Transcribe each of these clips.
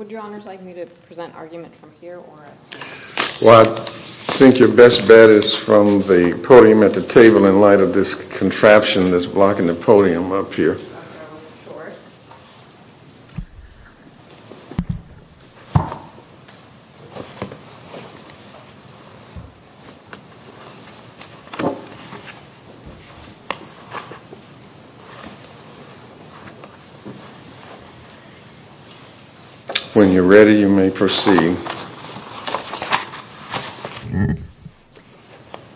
I think your best bet is from the podium at the table in light of this contraption that's blocking the podium up here. When you're ready, you may proceed.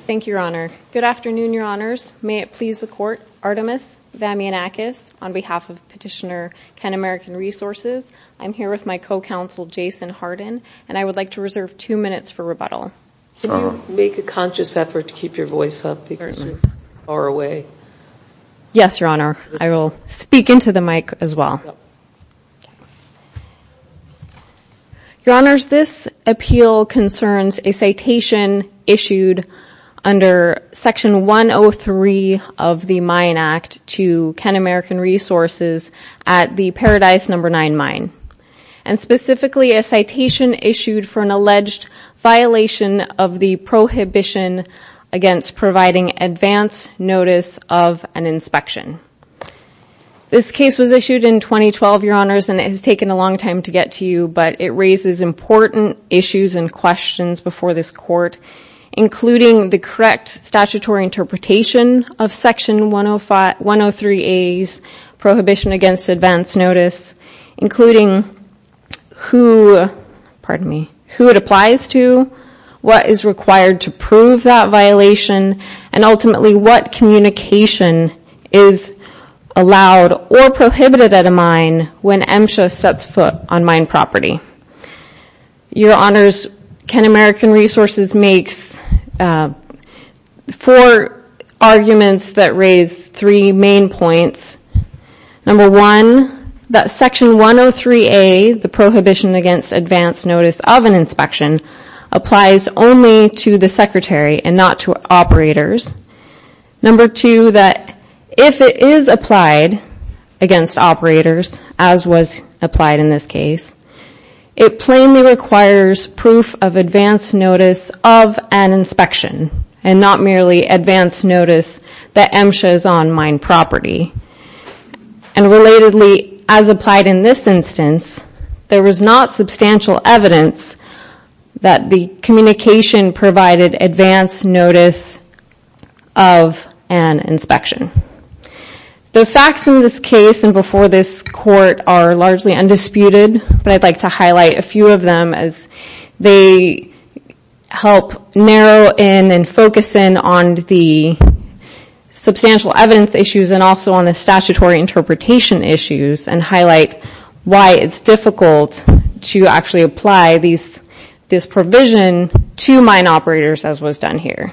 Thank you, Your Honor. Good afternoon, Your Honors. May it please the Court, Artemis Vamianakis, on behalf of Petitioner KenAmerican Resources. I'm here with my co-counsel, Jason Hardin, and I would like to reserve two minutes for rebuttal. Could you make a conscious effort to keep your voice up because you're far away? Yes, Your Honor. I will speak into the mic as well. Your Honors, this appeal concerns a citation issued under Section 103 of the Mine Act to KenAmerican Resources at the Paradise No. 9 mine, and specifically a citation issued for an alleged violation of the prohibition against providing advance notice of an inspection. This case was issued in 2012, Your Honors, and it has taken a long time to get to you, but it raises important issues and questions before this Court, including the correct statutory interpretation of Section 103A's prohibition against advance notice, including who it applies to, what is required to prove that violation, and ultimately what communication is allowed or prohibited at a mine when MSHA sets foot on mine property. Your Honors, KenAmerican Resources makes four arguments that raise three main points. Number one, that Section 103A, the prohibition against advance notice of an inspection, applies only to the secretary and not to operators. Number two, that if it is applied against operators, as was applied in this case, it plainly requires proof of advance notice of an inspection, and not merely advance notice that MSHA is on mine property. And relatedly, as applied in this instance, there was not substantial evidence that the communication provided advance notice of an inspection. The facts in this case and before this Court are largely undisputed, but I'd like to highlight a few of them as they help narrow in and focus in on the substantial evidence issues and also on the statutory interpretation issues and highlight why it's difficult to actually apply this provision to mine operators, as was done here.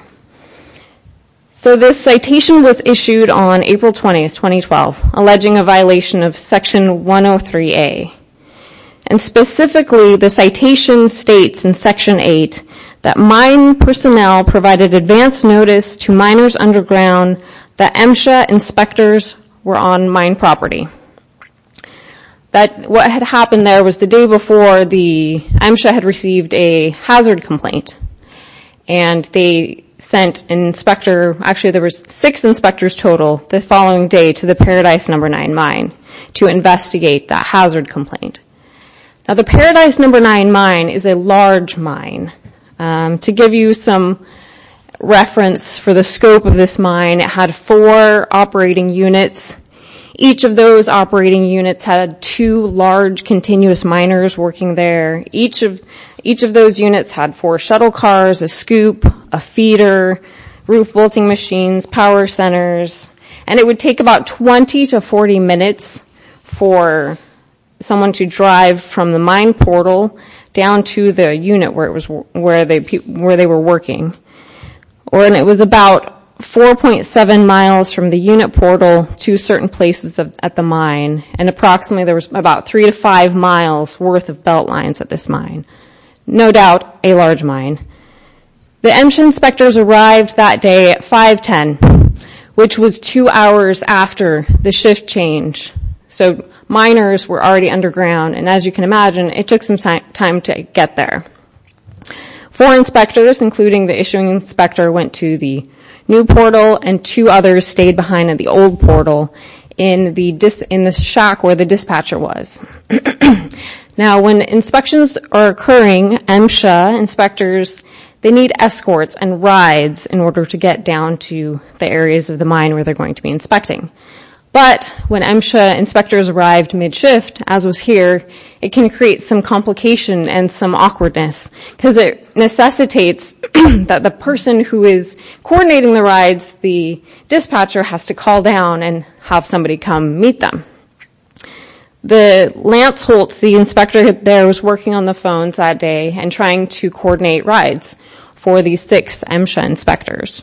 So this citation was issued on April 20, 2012, alleging a violation of Section 103A. And specifically, the citation states in Section 8 that mine personnel provided advance notice to miners underground that MSHA inspectors were on mine property. But what had happened there was the day before, MSHA had received a hazard complaint and they sent an inspector, actually there were six inspectors total, the following day to the Paradise No. 9 mine to investigate that hazard complaint. Now the Paradise No. 9 mine is a large mine. To give you some reference for the scope of this mine, it had four operating units. Each of those operating units had two large continuous miners working there. Each of those units had four shuttle cars, a scoop, a feeder, roof bolting machines, power centers. And it would take about 20 to 40 minutes for someone to drive from the mine portal down to the unit where they were working. And it was about 4.7 miles from the unit portal to certain places at the mine. And approximately there was about three to five miles worth of belt lines at this mine. No doubt a large mine. The MSHA inspectors arrived that day at 5.10, which was two hours after the shift change. So miners were already underground and as you can imagine, it took some time to get there. Four inspectors, including the issuing inspector, went to the new portal and two others stayed behind at the old portal in the shack where the dispatcher was. Now when inspections are occurring, MSHA inspectors, they need escorts and rides in order to get down to the areas of the mine where they're going to be inspecting. But when MSHA inspectors arrived mid-shift, as was here, it can create some complication and some awkwardness. Because it necessitates that the person who is coordinating the rides, the dispatcher, has to call down and have somebody come meet them. Lance Holtz, the inspector there, was working on the phones that day and trying to coordinate rides for the six MSHA inspectors.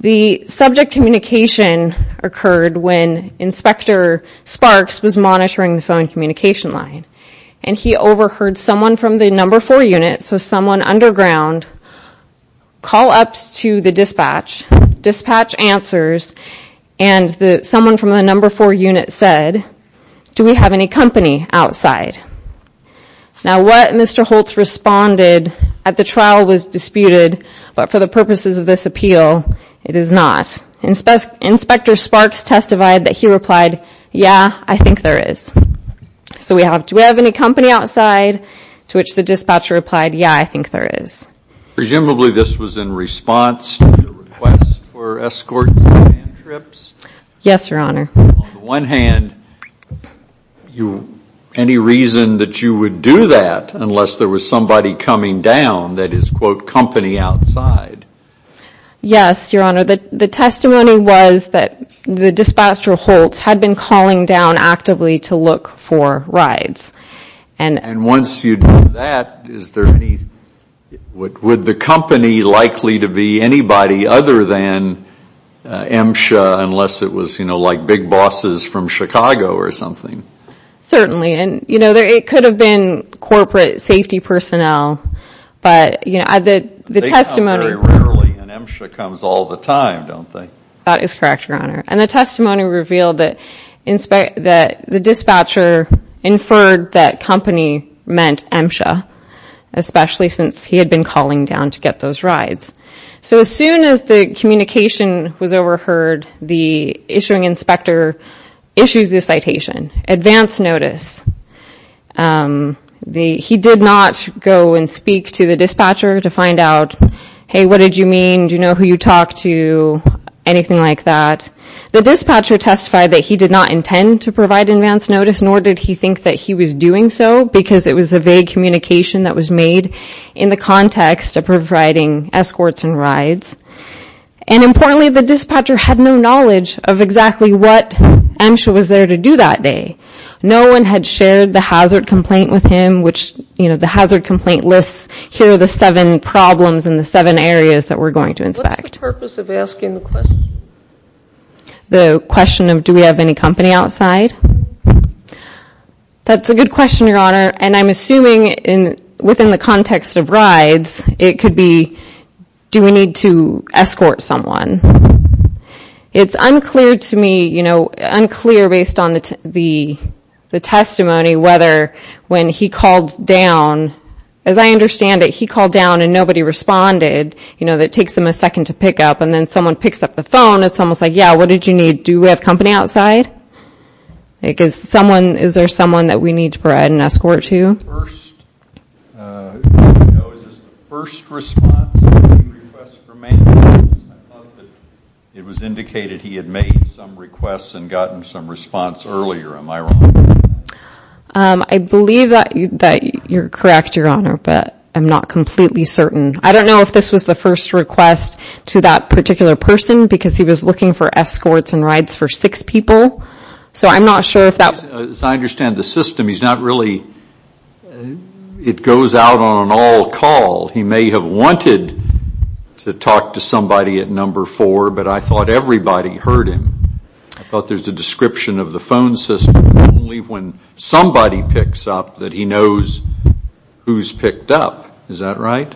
The subject communication occurred when Inspector Sparks was monitoring the phone communication line. And he overheard someone from the number four unit, so someone underground, call up to the dispatch. Dispatch answers and someone from the number four unit said, do we have any company outside? Now what Mr. Holtz responded at the trial was disputed, but for the purposes of this appeal, it is not. Inspector Sparks testified that he replied, yeah, I think there is. So we have, do we have any company outside, to which the dispatcher replied, yeah, I think there is. Presumably this was in response to the request for escort and trips? Yes, Your Honor. On the one hand, any reason that you would do that unless there was somebody coming down that is, quote, company outside? Yes, Your Honor. The testimony was that the dispatcher Holtz had been calling down actively to look for rides. And once you do that, is there any, would the company likely to be anybody other than MSHA unless it was, you know, like big bosses from Chicago or something? Certainly. And, you know, it could have been corporate safety personnel. But, you know, the testimony. They come very rarely and MSHA comes all the time, don't they? That is correct, Your Honor. And the testimony revealed that the dispatcher inferred that company meant MSHA, especially since he had been calling down to get those rides. So as soon as the communication was overheard, the issuing inspector issues the citation, advance notice. He did not go and speak to the dispatcher to find out, hey, what did you mean, do you know who you talked to, anything like that? The dispatcher testified that he did not intend to provide advance notice, nor did he think that he was doing so because it was a vague communication that was made in the context of providing escorts and rides. And importantly, the dispatcher had no knowledge of exactly what MSHA was there to do that day. No one had shared the hazard complaint with him, which, you know, the hazard complaint lists here the seven problems and the seven areas that we're going to inspect. What's the purpose of asking the question? The question of do we have any company outside? That's a good question, Your Honor, and I'm assuming within the context of rides, it could be do we need to escort someone. It's unclear to me, you know, unclear based on the testimony whether when he called down, as I understand it, he called down and nobody responded, you know, that takes them a second to pick up, and then someone picks up the phone, it's almost like, yeah, what did you need? Do we have company outside? Is there someone that we need to provide an escort to? The first, you know, is this the first response to the request for maintenance? I thought that it was indicated he had made some requests and gotten some response earlier. Am I wrong? I believe that you're correct, Your Honor, but I'm not completely certain. I don't know if this was the first request to that particular person, because he was looking for escorts and rides for six people, so I'm not sure if that... As I understand the system, he's not really, it goes out on an all call. He may have wanted to talk to somebody at number four, but I thought everybody heard him. I thought there's a description of the phone system, only when somebody picks up that he knows who's picked up, is that right?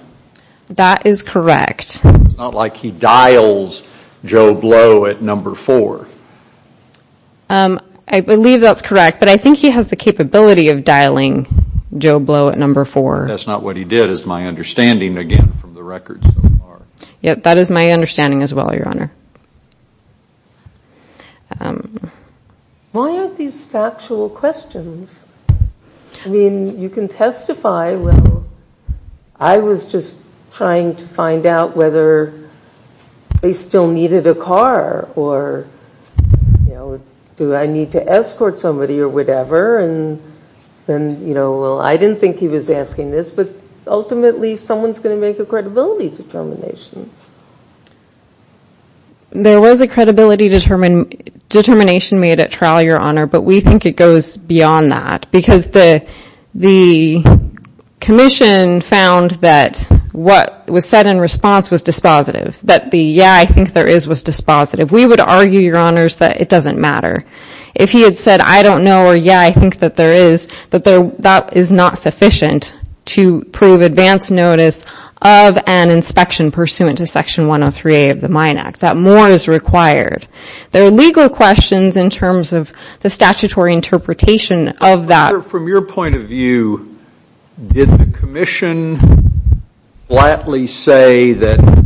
That is correct. It's not like he dials Joe Blow at number four. I believe that's correct, but I think he has the capability of dialing Joe Blow at number four. That's not what he did, is my understanding, again, from the records so far. Yeah, that is my understanding as well, Your Honor. Why aren't these factual questions? I mean, you can testify, well, I was just trying to find out whether they still needed a car, or do I need to escort somebody or whatever, and then, well, I didn't think he was asking this, but ultimately someone's going to make a credibility determination. There was a credibility determination made at trial, Your Honor, but we think it goes beyond that, because the commission found that what was said in response was dispositive, that the, yeah, I think there is, was dispositive. We would argue, Your Honors, that it doesn't matter. If he had said, I don't know, or, yeah, I think that there is, that is not sufficient to prove advance notice of an inspection pursuant to Section 103A of the Mine Act, that more is required. There are legal questions in terms of the statutory interpretation of that. Your Honor, from your point of view, did the commission flatly say that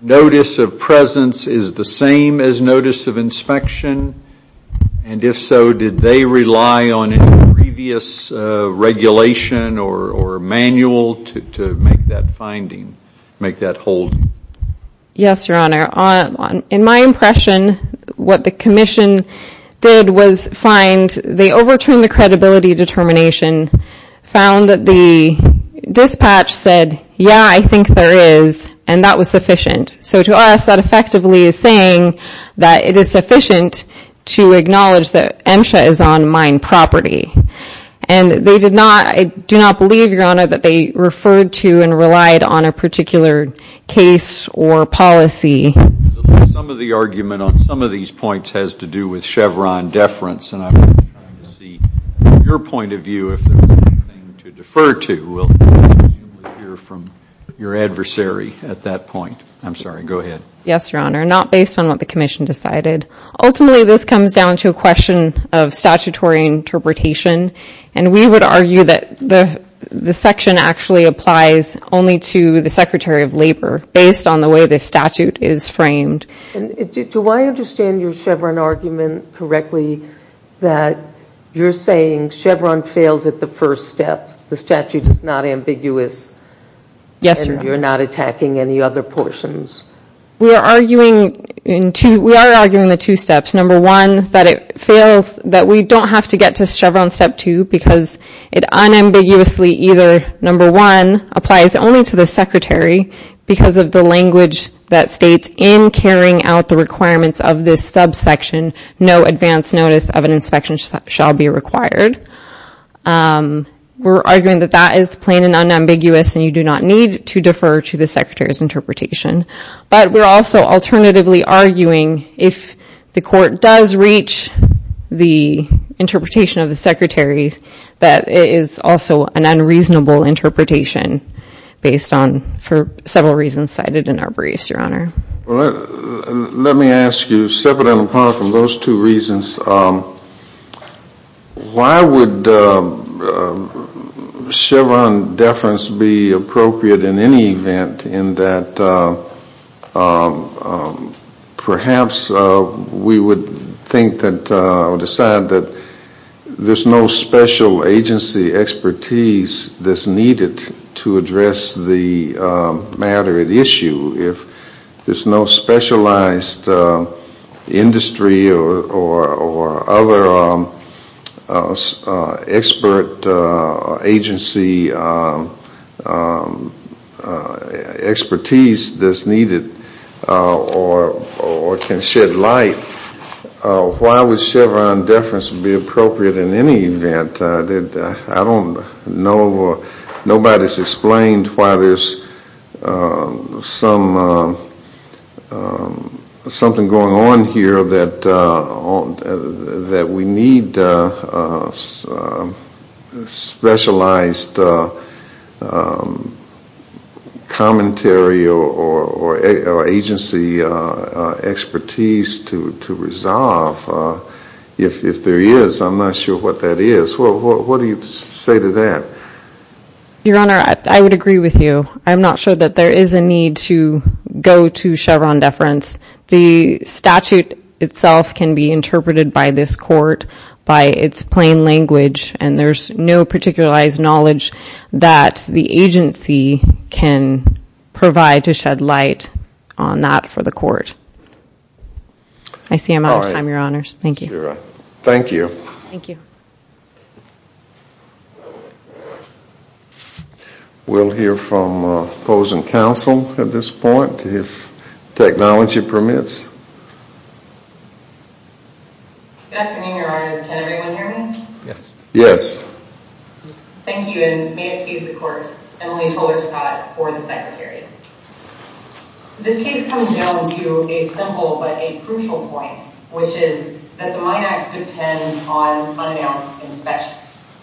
notice of presence is the same as notice of inspection? And if so, did they rely on any previous regulation or manual to make that finding, make that holding? Yes, Your Honor. In my impression, what the commission did was find, they overturned the credibility determination, found that the dispatch said, yeah, I think there is, and that was sufficient. So to us, that effectively is saying that it is sufficient to acknowledge that MSHA is on mine property. And they did not, I do not believe, Your Honor, that they referred to and relied on a particular case or policy because at least some of the argument on some of these points has to do with Chevron deference. And I'm trying to see your point of view, if there is anything to defer to. We'll let you hear from your adversary at that point. I'm sorry, go ahead. Yes, Your Honor. Not based on what the commission decided. Ultimately, this comes down to a question of statutory interpretation. And we would argue that the section actually applies only to the Secretary of Labor based on the way the statute is framed. Do I understand your Chevron argument correctly that you're saying Chevron fails at the first step? The statute is not ambiguous. Yes, Your Honor. And you're not attacking any other portions. We are arguing in two, we are arguing the two steps. Number one, that it fails, that we don't have to get to Chevron step two because it unambiguously either, number one, applies only to the Secretary because of the language that states, in carrying out the requirements of this subsection, no advance notice of an inspection shall be required. We're arguing that that is plain and unambiguous and you do not need to defer to the Secretary's interpretation. But we're also alternatively arguing if the court does reach the interpretation of the Secretary, that it is also an unreasonable interpretation based on, for several reasons cited in our briefs, Your Honor. Let me ask you, separate and apart from those two reasons, why would Chevron deference be appropriate in any event in that perhaps we would think that, or decide that there's no special agency expertise that's needed to address the matter at issue? If there's no specialized industry or other expert agency expertise that's needed or can shed light, why would Chevron deference be appropriate in any event? I don't know or nobody's explained why there's something going on here that we need specialized commentary or agency expertise to resolve. If there is, I'm not sure what that is. What do you say to that? Your Honor, I would agree with you. I'm not sure that there is a need to go to Chevron deference. The statute itself can be interpreted by this court by its plain language and there's no particularized knowledge that the agency can provide to shed light on that for the court. I see I'm out of time, Your Honors. Thank you. Thank you. Thank you. We'll hear from opposing counsel at this point if technology permits. Good afternoon, Your Honors. Can everyone hear me? Yes. Yes. Thank you, and may it please the court, Emily Tolerstadt for the Secretary. This case comes down to a simple but a crucial point, which is that the Mine Act depends on unannounced inspections.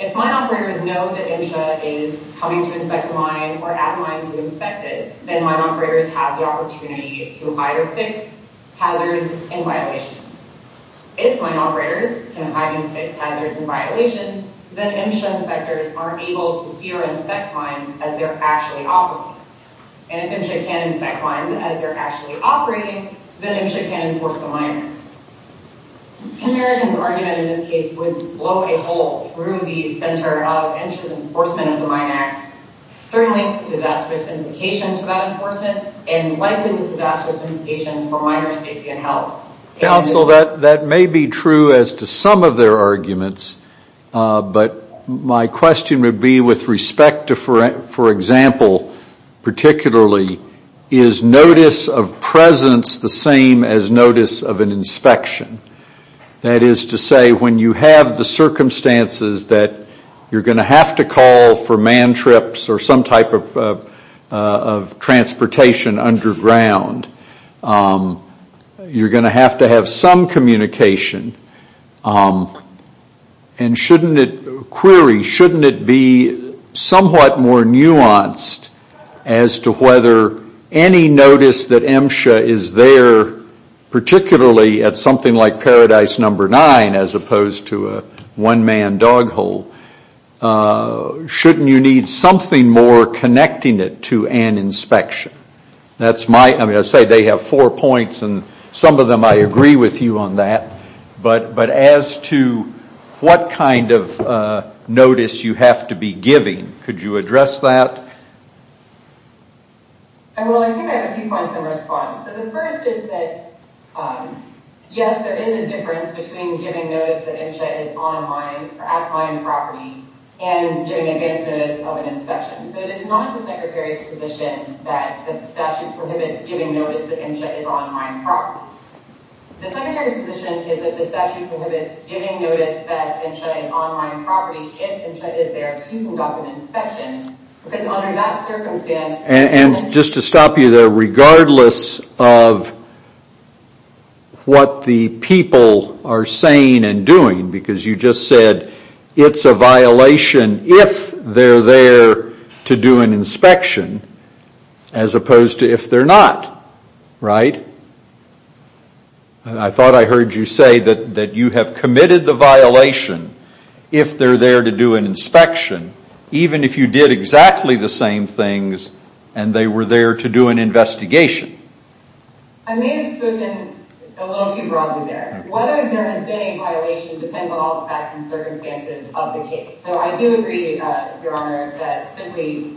If mine operators know that NSHA is coming to inspect a mine or at a mine to inspect it, then mine operators have the opportunity to either fix hazards and violations. If mine operators can hide and fix hazards and violations, then NSHA inspectors are able to see or inspect mines as they're actually operating. And if NSHA can inspect mines as they're actually operating, then NSHA can enforce the mine act. Can Americans argue that in this case would blow a hole through the center of NSHA's enforcement of the Mine Act, certainly disastrous implications for that enforcement, and likely disastrous implications for miners' safety and health? Counsel, that may be true as to some of their arguments. But my question would be with respect to, for example, particularly, is notice of presence the same as notice of an inspection? That is to say, when you have the circumstances that you're going to have to call for man trips or some type of transportation underground, you're going to have to have some communication. And shouldn't it, query, shouldn't it be somewhat more nuanced as to whether any notice that NSHA is there, particularly at something like Paradise Number 9 as opposed to a one-man dog hole, shouldn't you need something more connecting it to an inspection? That's my, I mean, I say they have four points, and some of them I agree with you on that. But as to what kind of notice you have to be giving, could you address that? Well, I think I have a few points in response. So the first is that, yes, there is a difference between giving notice that NSHA is at mine property and giving advance notice of an inspection. So it is not the Secretary's position that the statute prohibits giving notice that NSHA is on mine property. The Secretary's position is that the statute prohibits giving notice that NSHA is on mine property if NSHA is there to conduct an inspection, because under that circumstance... And just to stop you there, regardless of what the people are saying and doing, because you just said it's a violation if they're there to do an inspection as opposed to if they're not, right? And I thought I heard you say that you have committed the violation if they're there to do an inspection, even if you did exactly the same things and they were there to do an investigation. I may have spoken a little too broadly there. Whether there has been a violation depends on all the facts and circumstances of the case. So I do agree, Your Honor, that simply...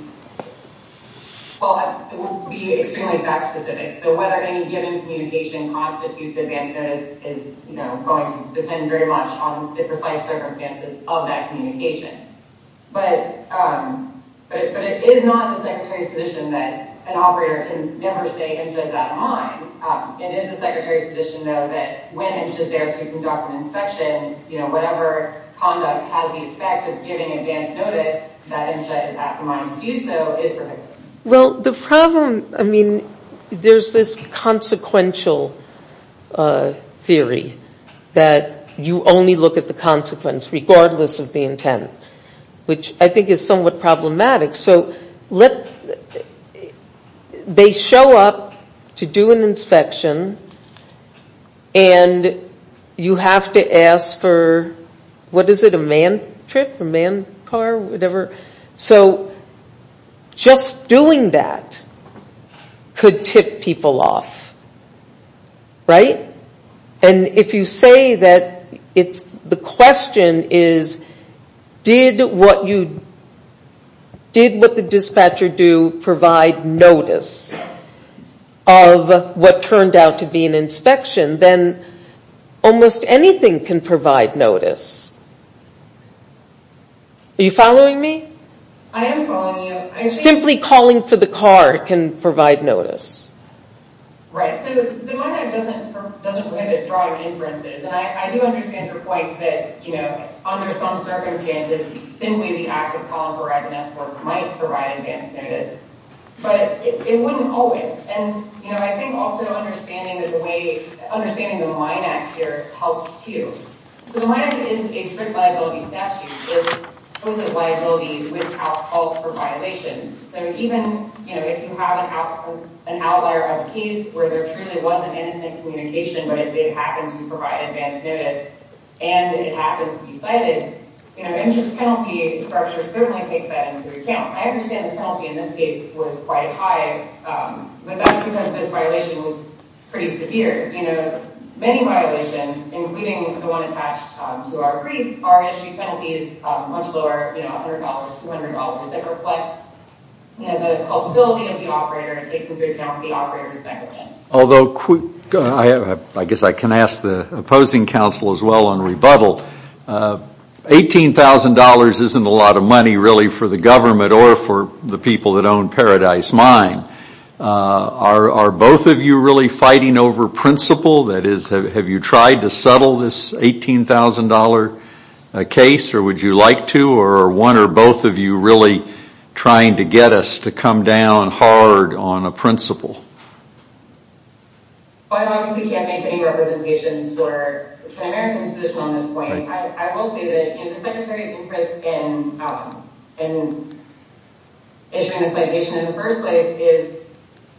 Well, it would be extremely fact-specific. So whether any given communication constitutes advance notice is, you know, going to depend very much on the precise circumstances of that communication. But it is not the Secretary's position that an operator can never say NSHA is out of mine. It is the Secretary's position, though, that when NSHA is there to conduct an inspection, you know, whatever conduct has the effect of giving advance notice that NSHA is at the mine to do so is prohibited. Well, the problem, I mean, there's this consequential theory that you only look at the consequence regardless of the intent, which I think is somewhat problematic. So they show up to do an inspection and you have to ask for, what is it, a man-trip, a man-car, whatever? So just doing that could tip people off, right? And if you say that the question is, did what the dispatcher do provide notice of what turned out to be an inspection, then almost anything can provide notice. Are you following me? I am following you. Simply calling for the car can provide notice. Right. So the Mine Act doesn't prohibit driving inferences. And I do understand your point that, you know, under some circumstances, simply the act of calling for a ride in an escort might provide advance notice. But it wouldn't always. And, you know, I think also understanding the way, understanding the Mine Act here helps, too. So the Mine Act is a strict liability statute that prohibits liability without call for violations. So even, you know, if you have an outlier of a case where there truly was an innocent communication, but it did happen to provide advance notice and it happened to be cited, you know, the interest penalty structure certainly takes that into account. I understand the penalty in this case was quite high, but that's because this violation was pretty severe. You know, many violations, including the one attached to our brief, are issued penalties much lower than $100, $200. They reflect, you know, the culpability of the operator. It takes into account the operator's negligence. Although I guess I can ask the opposing counsel as well on rebuttal. $18,000 isn't a lot of money really for the government or for the people that own Paradise Mine. Are both of you really fighting over principle? That is, have you tried to settle this $18,000 case, or would you like to? Or are one or both of you really trying to get us to come down hard on a principle? Well, I obviously can't make any representations for an American's position on this point. I will say that, you know, the Secretary's interest in issuing a citation in the first place is,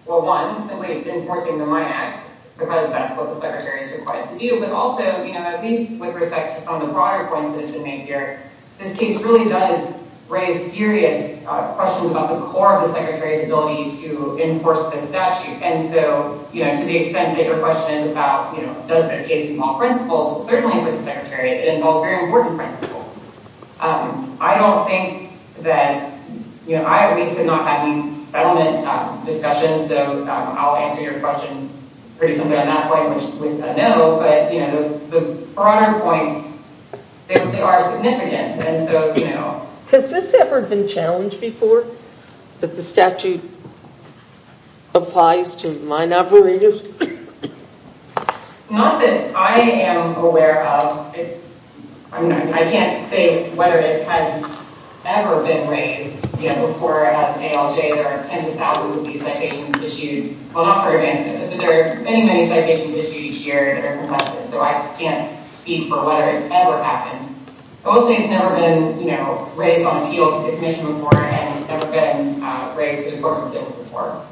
well, one, simply enforcing the Mine Act, because that's what the Secretary is required to do. But also, you know, at least with respect to some of the broader points that have been made here, this case really does raise serious questions about the core of the Secretary's ability to enforce this statute. And so, you know, to the extent that your question is about, you know, does this case involve principles, certainly for the Secretary, it involves very important principles. I don't think that, you know, I at least did not have any settlement discussions, so I'll answer your question pretty simply on that point, which we've got to know. But, you know, the broader points, they are significant. And so, you know. Has this ever been challenged before, that the statute applies to mine operators? Not that I am aware of. I mean, I can't say whether it has ever been raised, you know, before at ALJ. There are tens of thousands of these citations issued. Well, not for advance notice, but there are many, many citations issued each year that are contested, so I can't speak for whether it's ever happened. I will say it's never been, you know, raised on appeal to the Commission before and never been raised to important appeals before.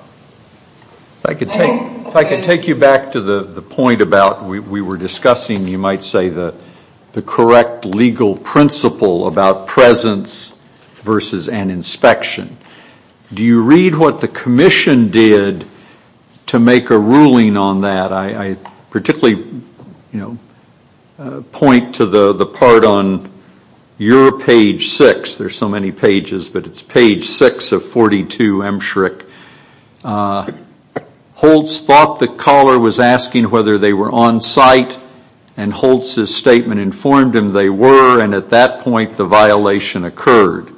If I could take you back to the point about we were discussing, you might say, the correct legal principle about presence versus an inspection. Do you read what the Commission did to make a ruling on that? I particularly, you know, point to the part on your page six. There are so many pages, but it's page six of 42 MSHRC. Holtz thought the caller was asking whether they were on site, and Holtz's statement informed him they were, and at that point the violation occurred.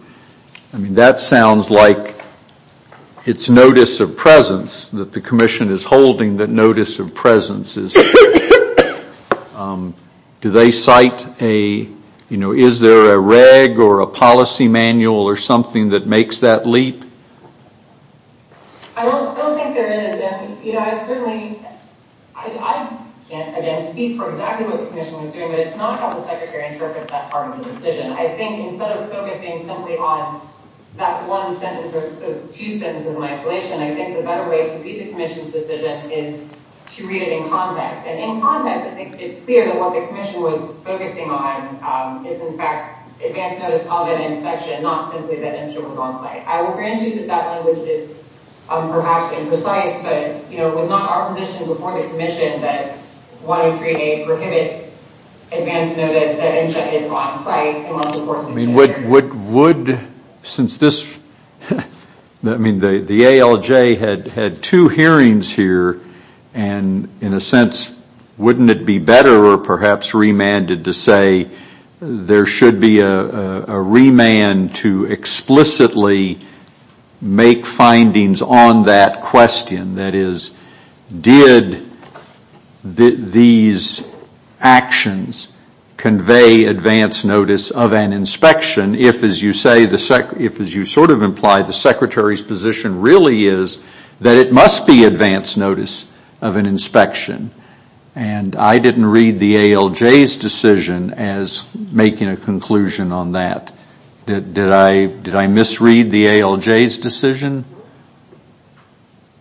I mean, that sounds like it's notice of presence, that the Commission is holding the notice of presence. Do they cite a, you know, is there a reg or a policy manual or something that makes that leap? I don't think there is. You know, I certainly, I can't again speak for exactly what the Commission was doing, but it's not how the Secretary interprets that part of the decision. I think instead of focusing simply on that one sentence or two sentences in isolation, I think the better way to read the Commission's decision is to read it in context. And in context, I think it's clear that what the Commission was focusing on is, in fact, advance notice of an inspection, not simply that InSHA was on site. I will grant you that that language is perhaps imprecise, but, you know, it was not our position before the Commission that 103A prohibits advance notice that InSHA is on site. I mean, would, since this, I mean, the ALJ had two hearings here, and in a sense, wouldn't it be better or perhaps remanded to say, there should be a remand to explicitly make findings on that question? That is, did these actions convey advance notice of an inspection, if, as you say, if, as you sort of imply, the Secretary's position really is that it must be advance notice of an inspection? And I didn't read the ALJ's decision as making a conclusion on that. Did I misread the ALJ's decision?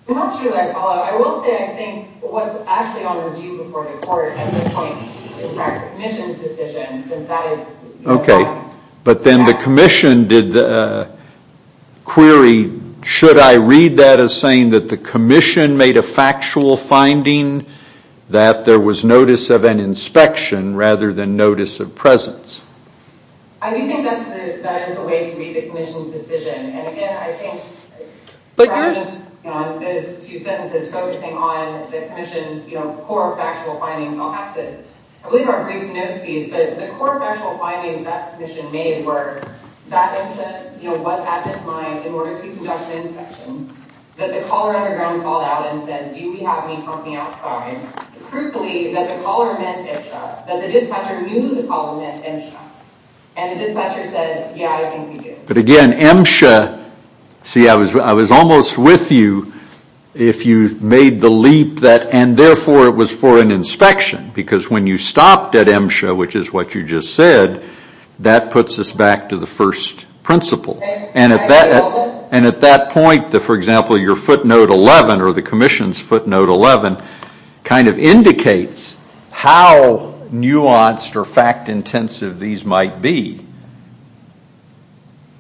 I'm not sure that I follow. I will say, I think, what's actually on review before the Court at this point, in fact, the Commission's decision, since that is. Okay, but then the Commission did query, should I read that as saying that the Commission made a factual finding that there was notice of an inspection rather than notice of presence? I do think that is the way to read the Commission's decision. And again, I think rather than those two sentences focusing on the Commission's core factual findings, I'll have to, I believe our brief notice piece, but the core factual findings that the Commission made were that MSHA was at this line in order to conduct an inspection, that the caller on the ground called out and said, do we have any company outside? Crucially, that the caller meant MSHA, that the dispatcher knew the caller meant MSHA. And the dispatcher said, yeah, I think we do. But again, MSHA, see, I was almost with you if you made the leap that, and therefore it was for an inspection, because when you stopped at MSHA, which is what you just said, that puts us back to the first principle. And at that point, for example, your footnote 11, or the Commission's footnote 11, kind of indicates how nuanced or fact-intensive these might be.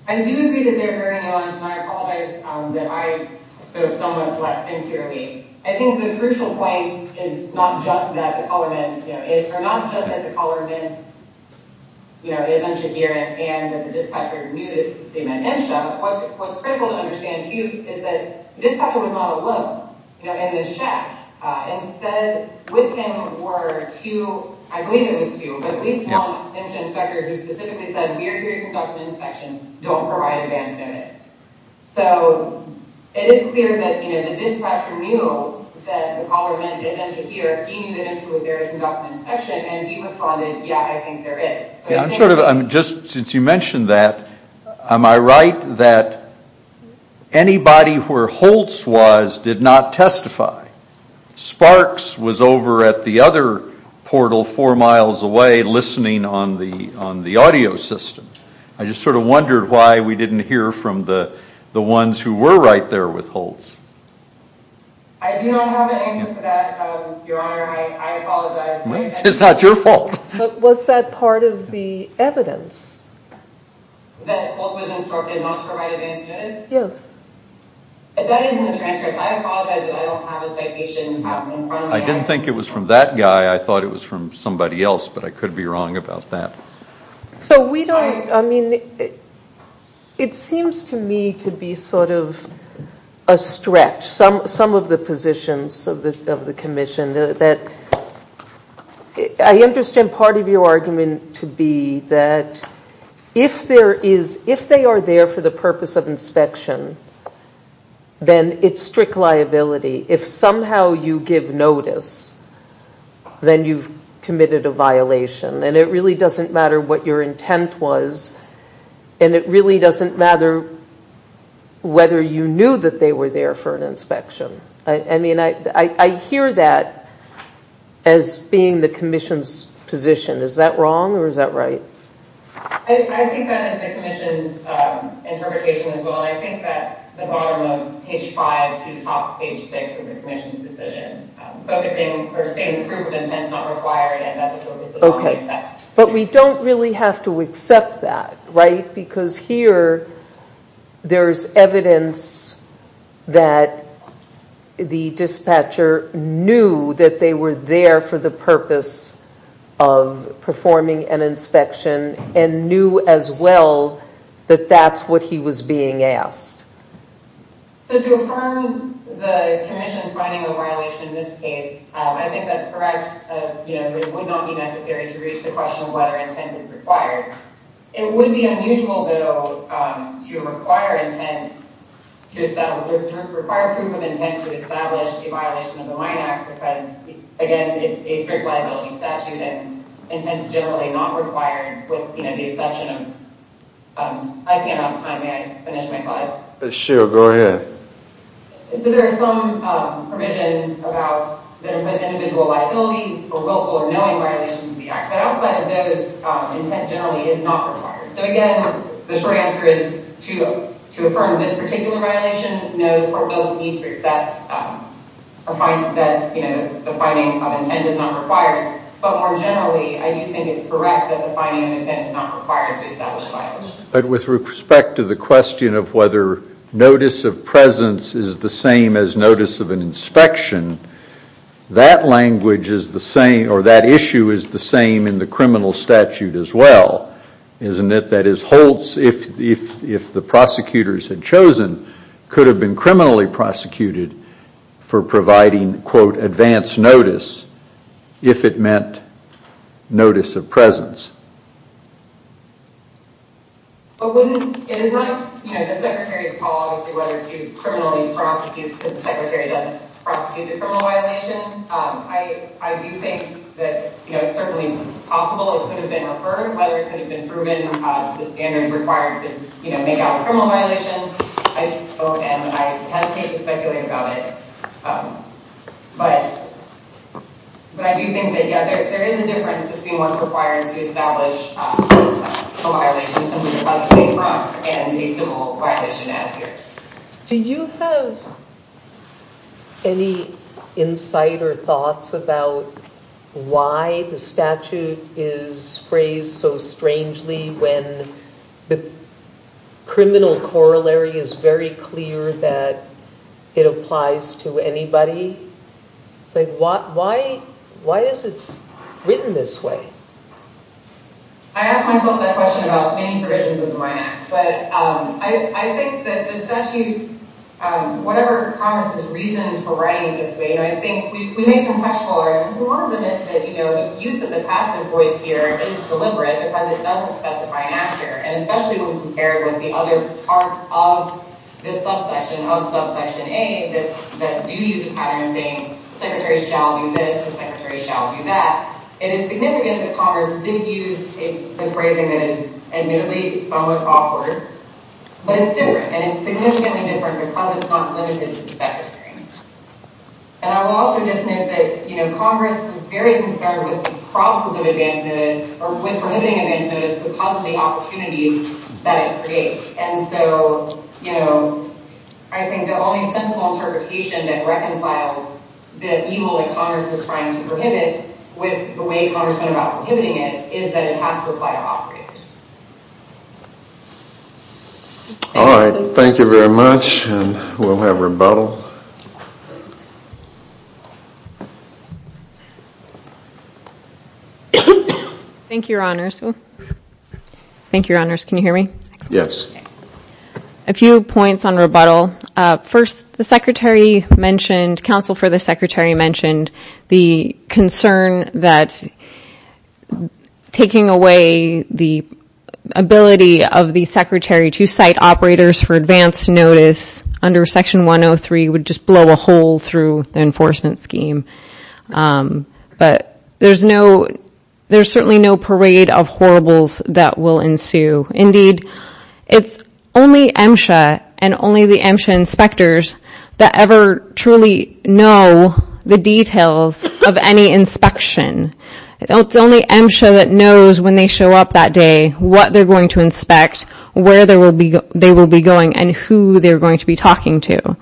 I do agree that they're very nuanced, and I apologize that I spoke somewhat less inferiorly. I think the crucial point is not just that the caller meant, or not just that the caller meant MSHA here and that the dispatcher knew that they meant MSHA. What's critical to understand, too, is that the dispatcher was not alone. You know, in the shack. Instead, with him were two, I believe it was two, but at least one MSHA inspector who specifically said, we are here to conduct an inspection, don't provide advance notice. So it is clear that the dispatcher knew that the caller meant MSHA here, he knew that MSHA was there to conduct an inspection, and he responded, yeah, I think there is. I'm sort of, just since you mentioned that, am I right that anybody where Holtz was did not testify? Sparks was over at the other portal four miles away listening on the audio system. I just sort of wondered why we didn't hear from the ones who were right there with Holtz. I do not have an answer for that, Your Honor. I apologize. It's not your fault. Was that part of the evidence? That Holtz was instructed not to provide advance notice? Yes. That is in the transcript. I apologize, I don't have a citation in front of me. I didn't think it was from that guy, I thought it was from somebody else, but I could be wrong about that. So we don't, I mean, it seems to me to be sort of a stretch. Some of the positions of the commission that, I understand part of your argument to be that if there is, if they are there for the purpose of inspection, then it's strict liability. If somehow you give notice, then you've committed a violation. And it really doesn't matter what your intent was, and it really doesn't matter whether you knew that they were there for an inspection. I mean, I hear that as being the commission's position. Is that wrong or is that right? I think that is the commission's interpretation as well, and I think that's the bottom of page 5 to the top of page 6 of the commission's decision. Focusing, or stating proof of intent is not required and that the purpose of the audit is that. But we don't really have to accept that, right? Because here, there's evidence that the dispatcher knew that they were there for the purpose of performing an inspection and knew as well that that's what he was being asked. So to affirm the commission's finding a violation in this case, I think that's correct. It would not be necessary to reach the question of whether intent is required. It would be unusual, though, to require proof of intent to establish a violation of the Mine Act because, again, it's a strict liability statute and intent is generally not required with the exception of... I see I'm out of time. May I finish my slide? Sure, go ahead. So there are some provisions that impose individual liability for willful or knowing violations of the Act. But outside of those, intent generally is not required. So again, the short answer is to affirm this particular violation, no, the court doesn't need to accept that the finding of intent is not required. But more generally, I do think it's correct that the finding of intent is not required to establish a violation. But with respect to the question of whether notice of presence is the same as notice of an inspection, that language is the same or that issue is the same in the criminal statute as well, isn't it? That is, Holtz, if the prosecutors had chosen, could have been criminally prosecuted for providing, quote, advance notice if it meant notice of presence. But wouldn't, it is not, you know, the Secretary's call obviously whether to criminally prosecute because the Secretary doesn't prosecute the criminal violations. I do think that, you know, it's certainly possible it could have been referred, whether it could have been proven to the standards required to, you know, make out a criminal violation. I don't, and I hesitate to speculate about it. But I do think that, yeah, there is a difference between what's required to establish a violation, something that was made wrong, and a civil violation as here. Do you have any insight or thoughts about why the statute is phrased so strangely when the criminal corollary is very clear that it applies to anybody? Like, why is it written this way? I asked myself that question about many versions of the Mine Act. But I think that the statute, whatever Congress's reasons for writing it this way, you know, I think we need some textual arguments. And one of them is that, you know, the use of the passive voice here is deliberate because it doesn't specify an actor. And especially when compared with the other parts of this subsection, of subsection A, that do use a pattern saying the Secretary shall do this, the Secretary shall do that. It is significant that Congress did use the phrasing that is, admittedly, somewhat awkward. But it's different. And it's significantly different because it's not limited to the Secretary. And I will also just note that, you know, Congress is very concerned with the problems of advance notice, or with limiting advance notice because of the opportunities that it creates. And so, you know, I think the only sensible interpretation that reconciles the evil that Congress was trying to prohibit with the way Congress went about prohibiting it is that it has to apply to operatives. All right. Thank you very much. And we'll have rebuttal. Thank you, Your Honors. Thank you, Your Honors. Can you hear me? Yes. A few points on rebuttal. First, the Secretary mentioned, Counsel for the Secretary mentioned the concern that taking away the ability of the Secretary to cite operators for advance notice under Section 103 would just blow a hole through the enforcement scheme. But there's no, there's certainly no parade of horribles that will ensue. Indeed, it's only MSHA and only the MSHA inspectors that ever truly know the details of any inspection. It's only MSHA that knows when they show up that day what they're going to inspect, where they will be going, and who they're going to be talking to.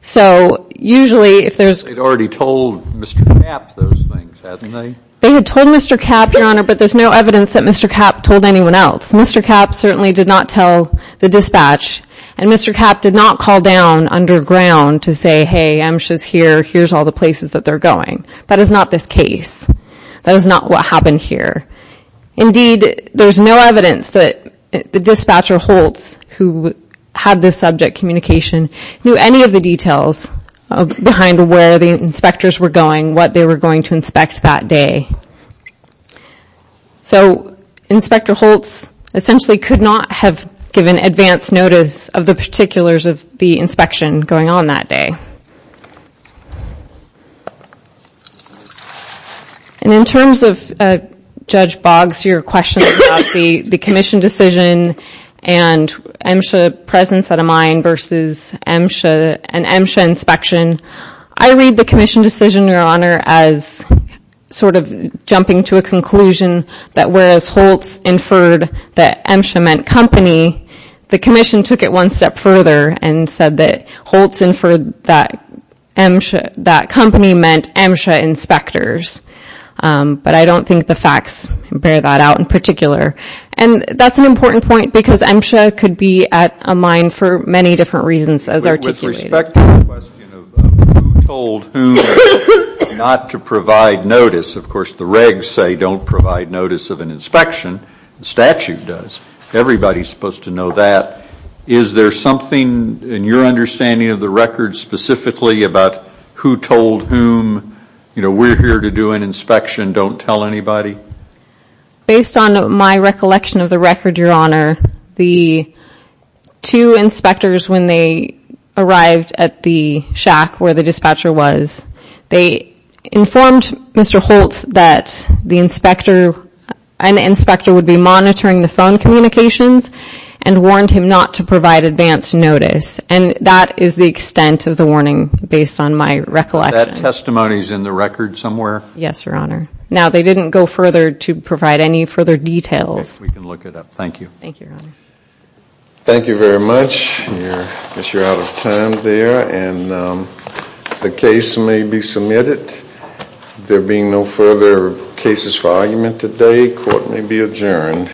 So usually if there's — They'd already told Mr. Kapp those things, hadn't they? They had told Mr. Kapp, Your Honor, but there's no evidence that Mr. Kapp told anyone else. Mr. Kapp certainly did not tell the dispatch, and Mr. Kapp did not call down underground to say, hey, MSHA's here, here's all the places that they're going. That is not this case. That is not what happened here. Indeed, there's no evidence that the dispatcher, Holtz, who had this subject communication, knew any of the details behind where the inspectors were going, what they were going to inspect that day. So Inspector Holtz essentially could not have given advance notice of the particulars of the inspection going on that day. And in terms of, Judge Boggs, your question about the commission decision and MSHA presence at a mine versus an MSHA inspection, I read the commission decision, Your Honor, as sort of jumping to a conclusion that whereas Holtz inferred that MSHA meant company, the commission took it one step further and said that Holtz inferred that MSHA, that company meant MSHA inspectors. But I don't think the facts bear that out in particular. And that's an important point because MSHA could be at a mine for many different reasons as articulated. With respect to the question of who told whom not to provide notice, of course the regs say don't provide notice of an inspection. The statute does. Everybody's supposed to know that. Is there something in your understanding of the record specifically about who told whom, you know, we're here to do an inspection, don't tell anybody? Based on my recollection of the record, Your Honor, the two inspectors when they arrived at the shack where the dispatcher was, they informed Mr. Holtz that the inspector, an inspector would be monitoring the phone communications and warned him not to provide advance notice. And that is the extent of the warning based on my recollection. That testimony is in the record somewhere? Yes, Your Honor. Now, they didn't go further to provide any further details. We can look it up. Thank you. Thank you, Your Honor. Thank you very much. I guess you're out of time there. And the case may be submitted. There being no further cases for argument today, court may be adjourned.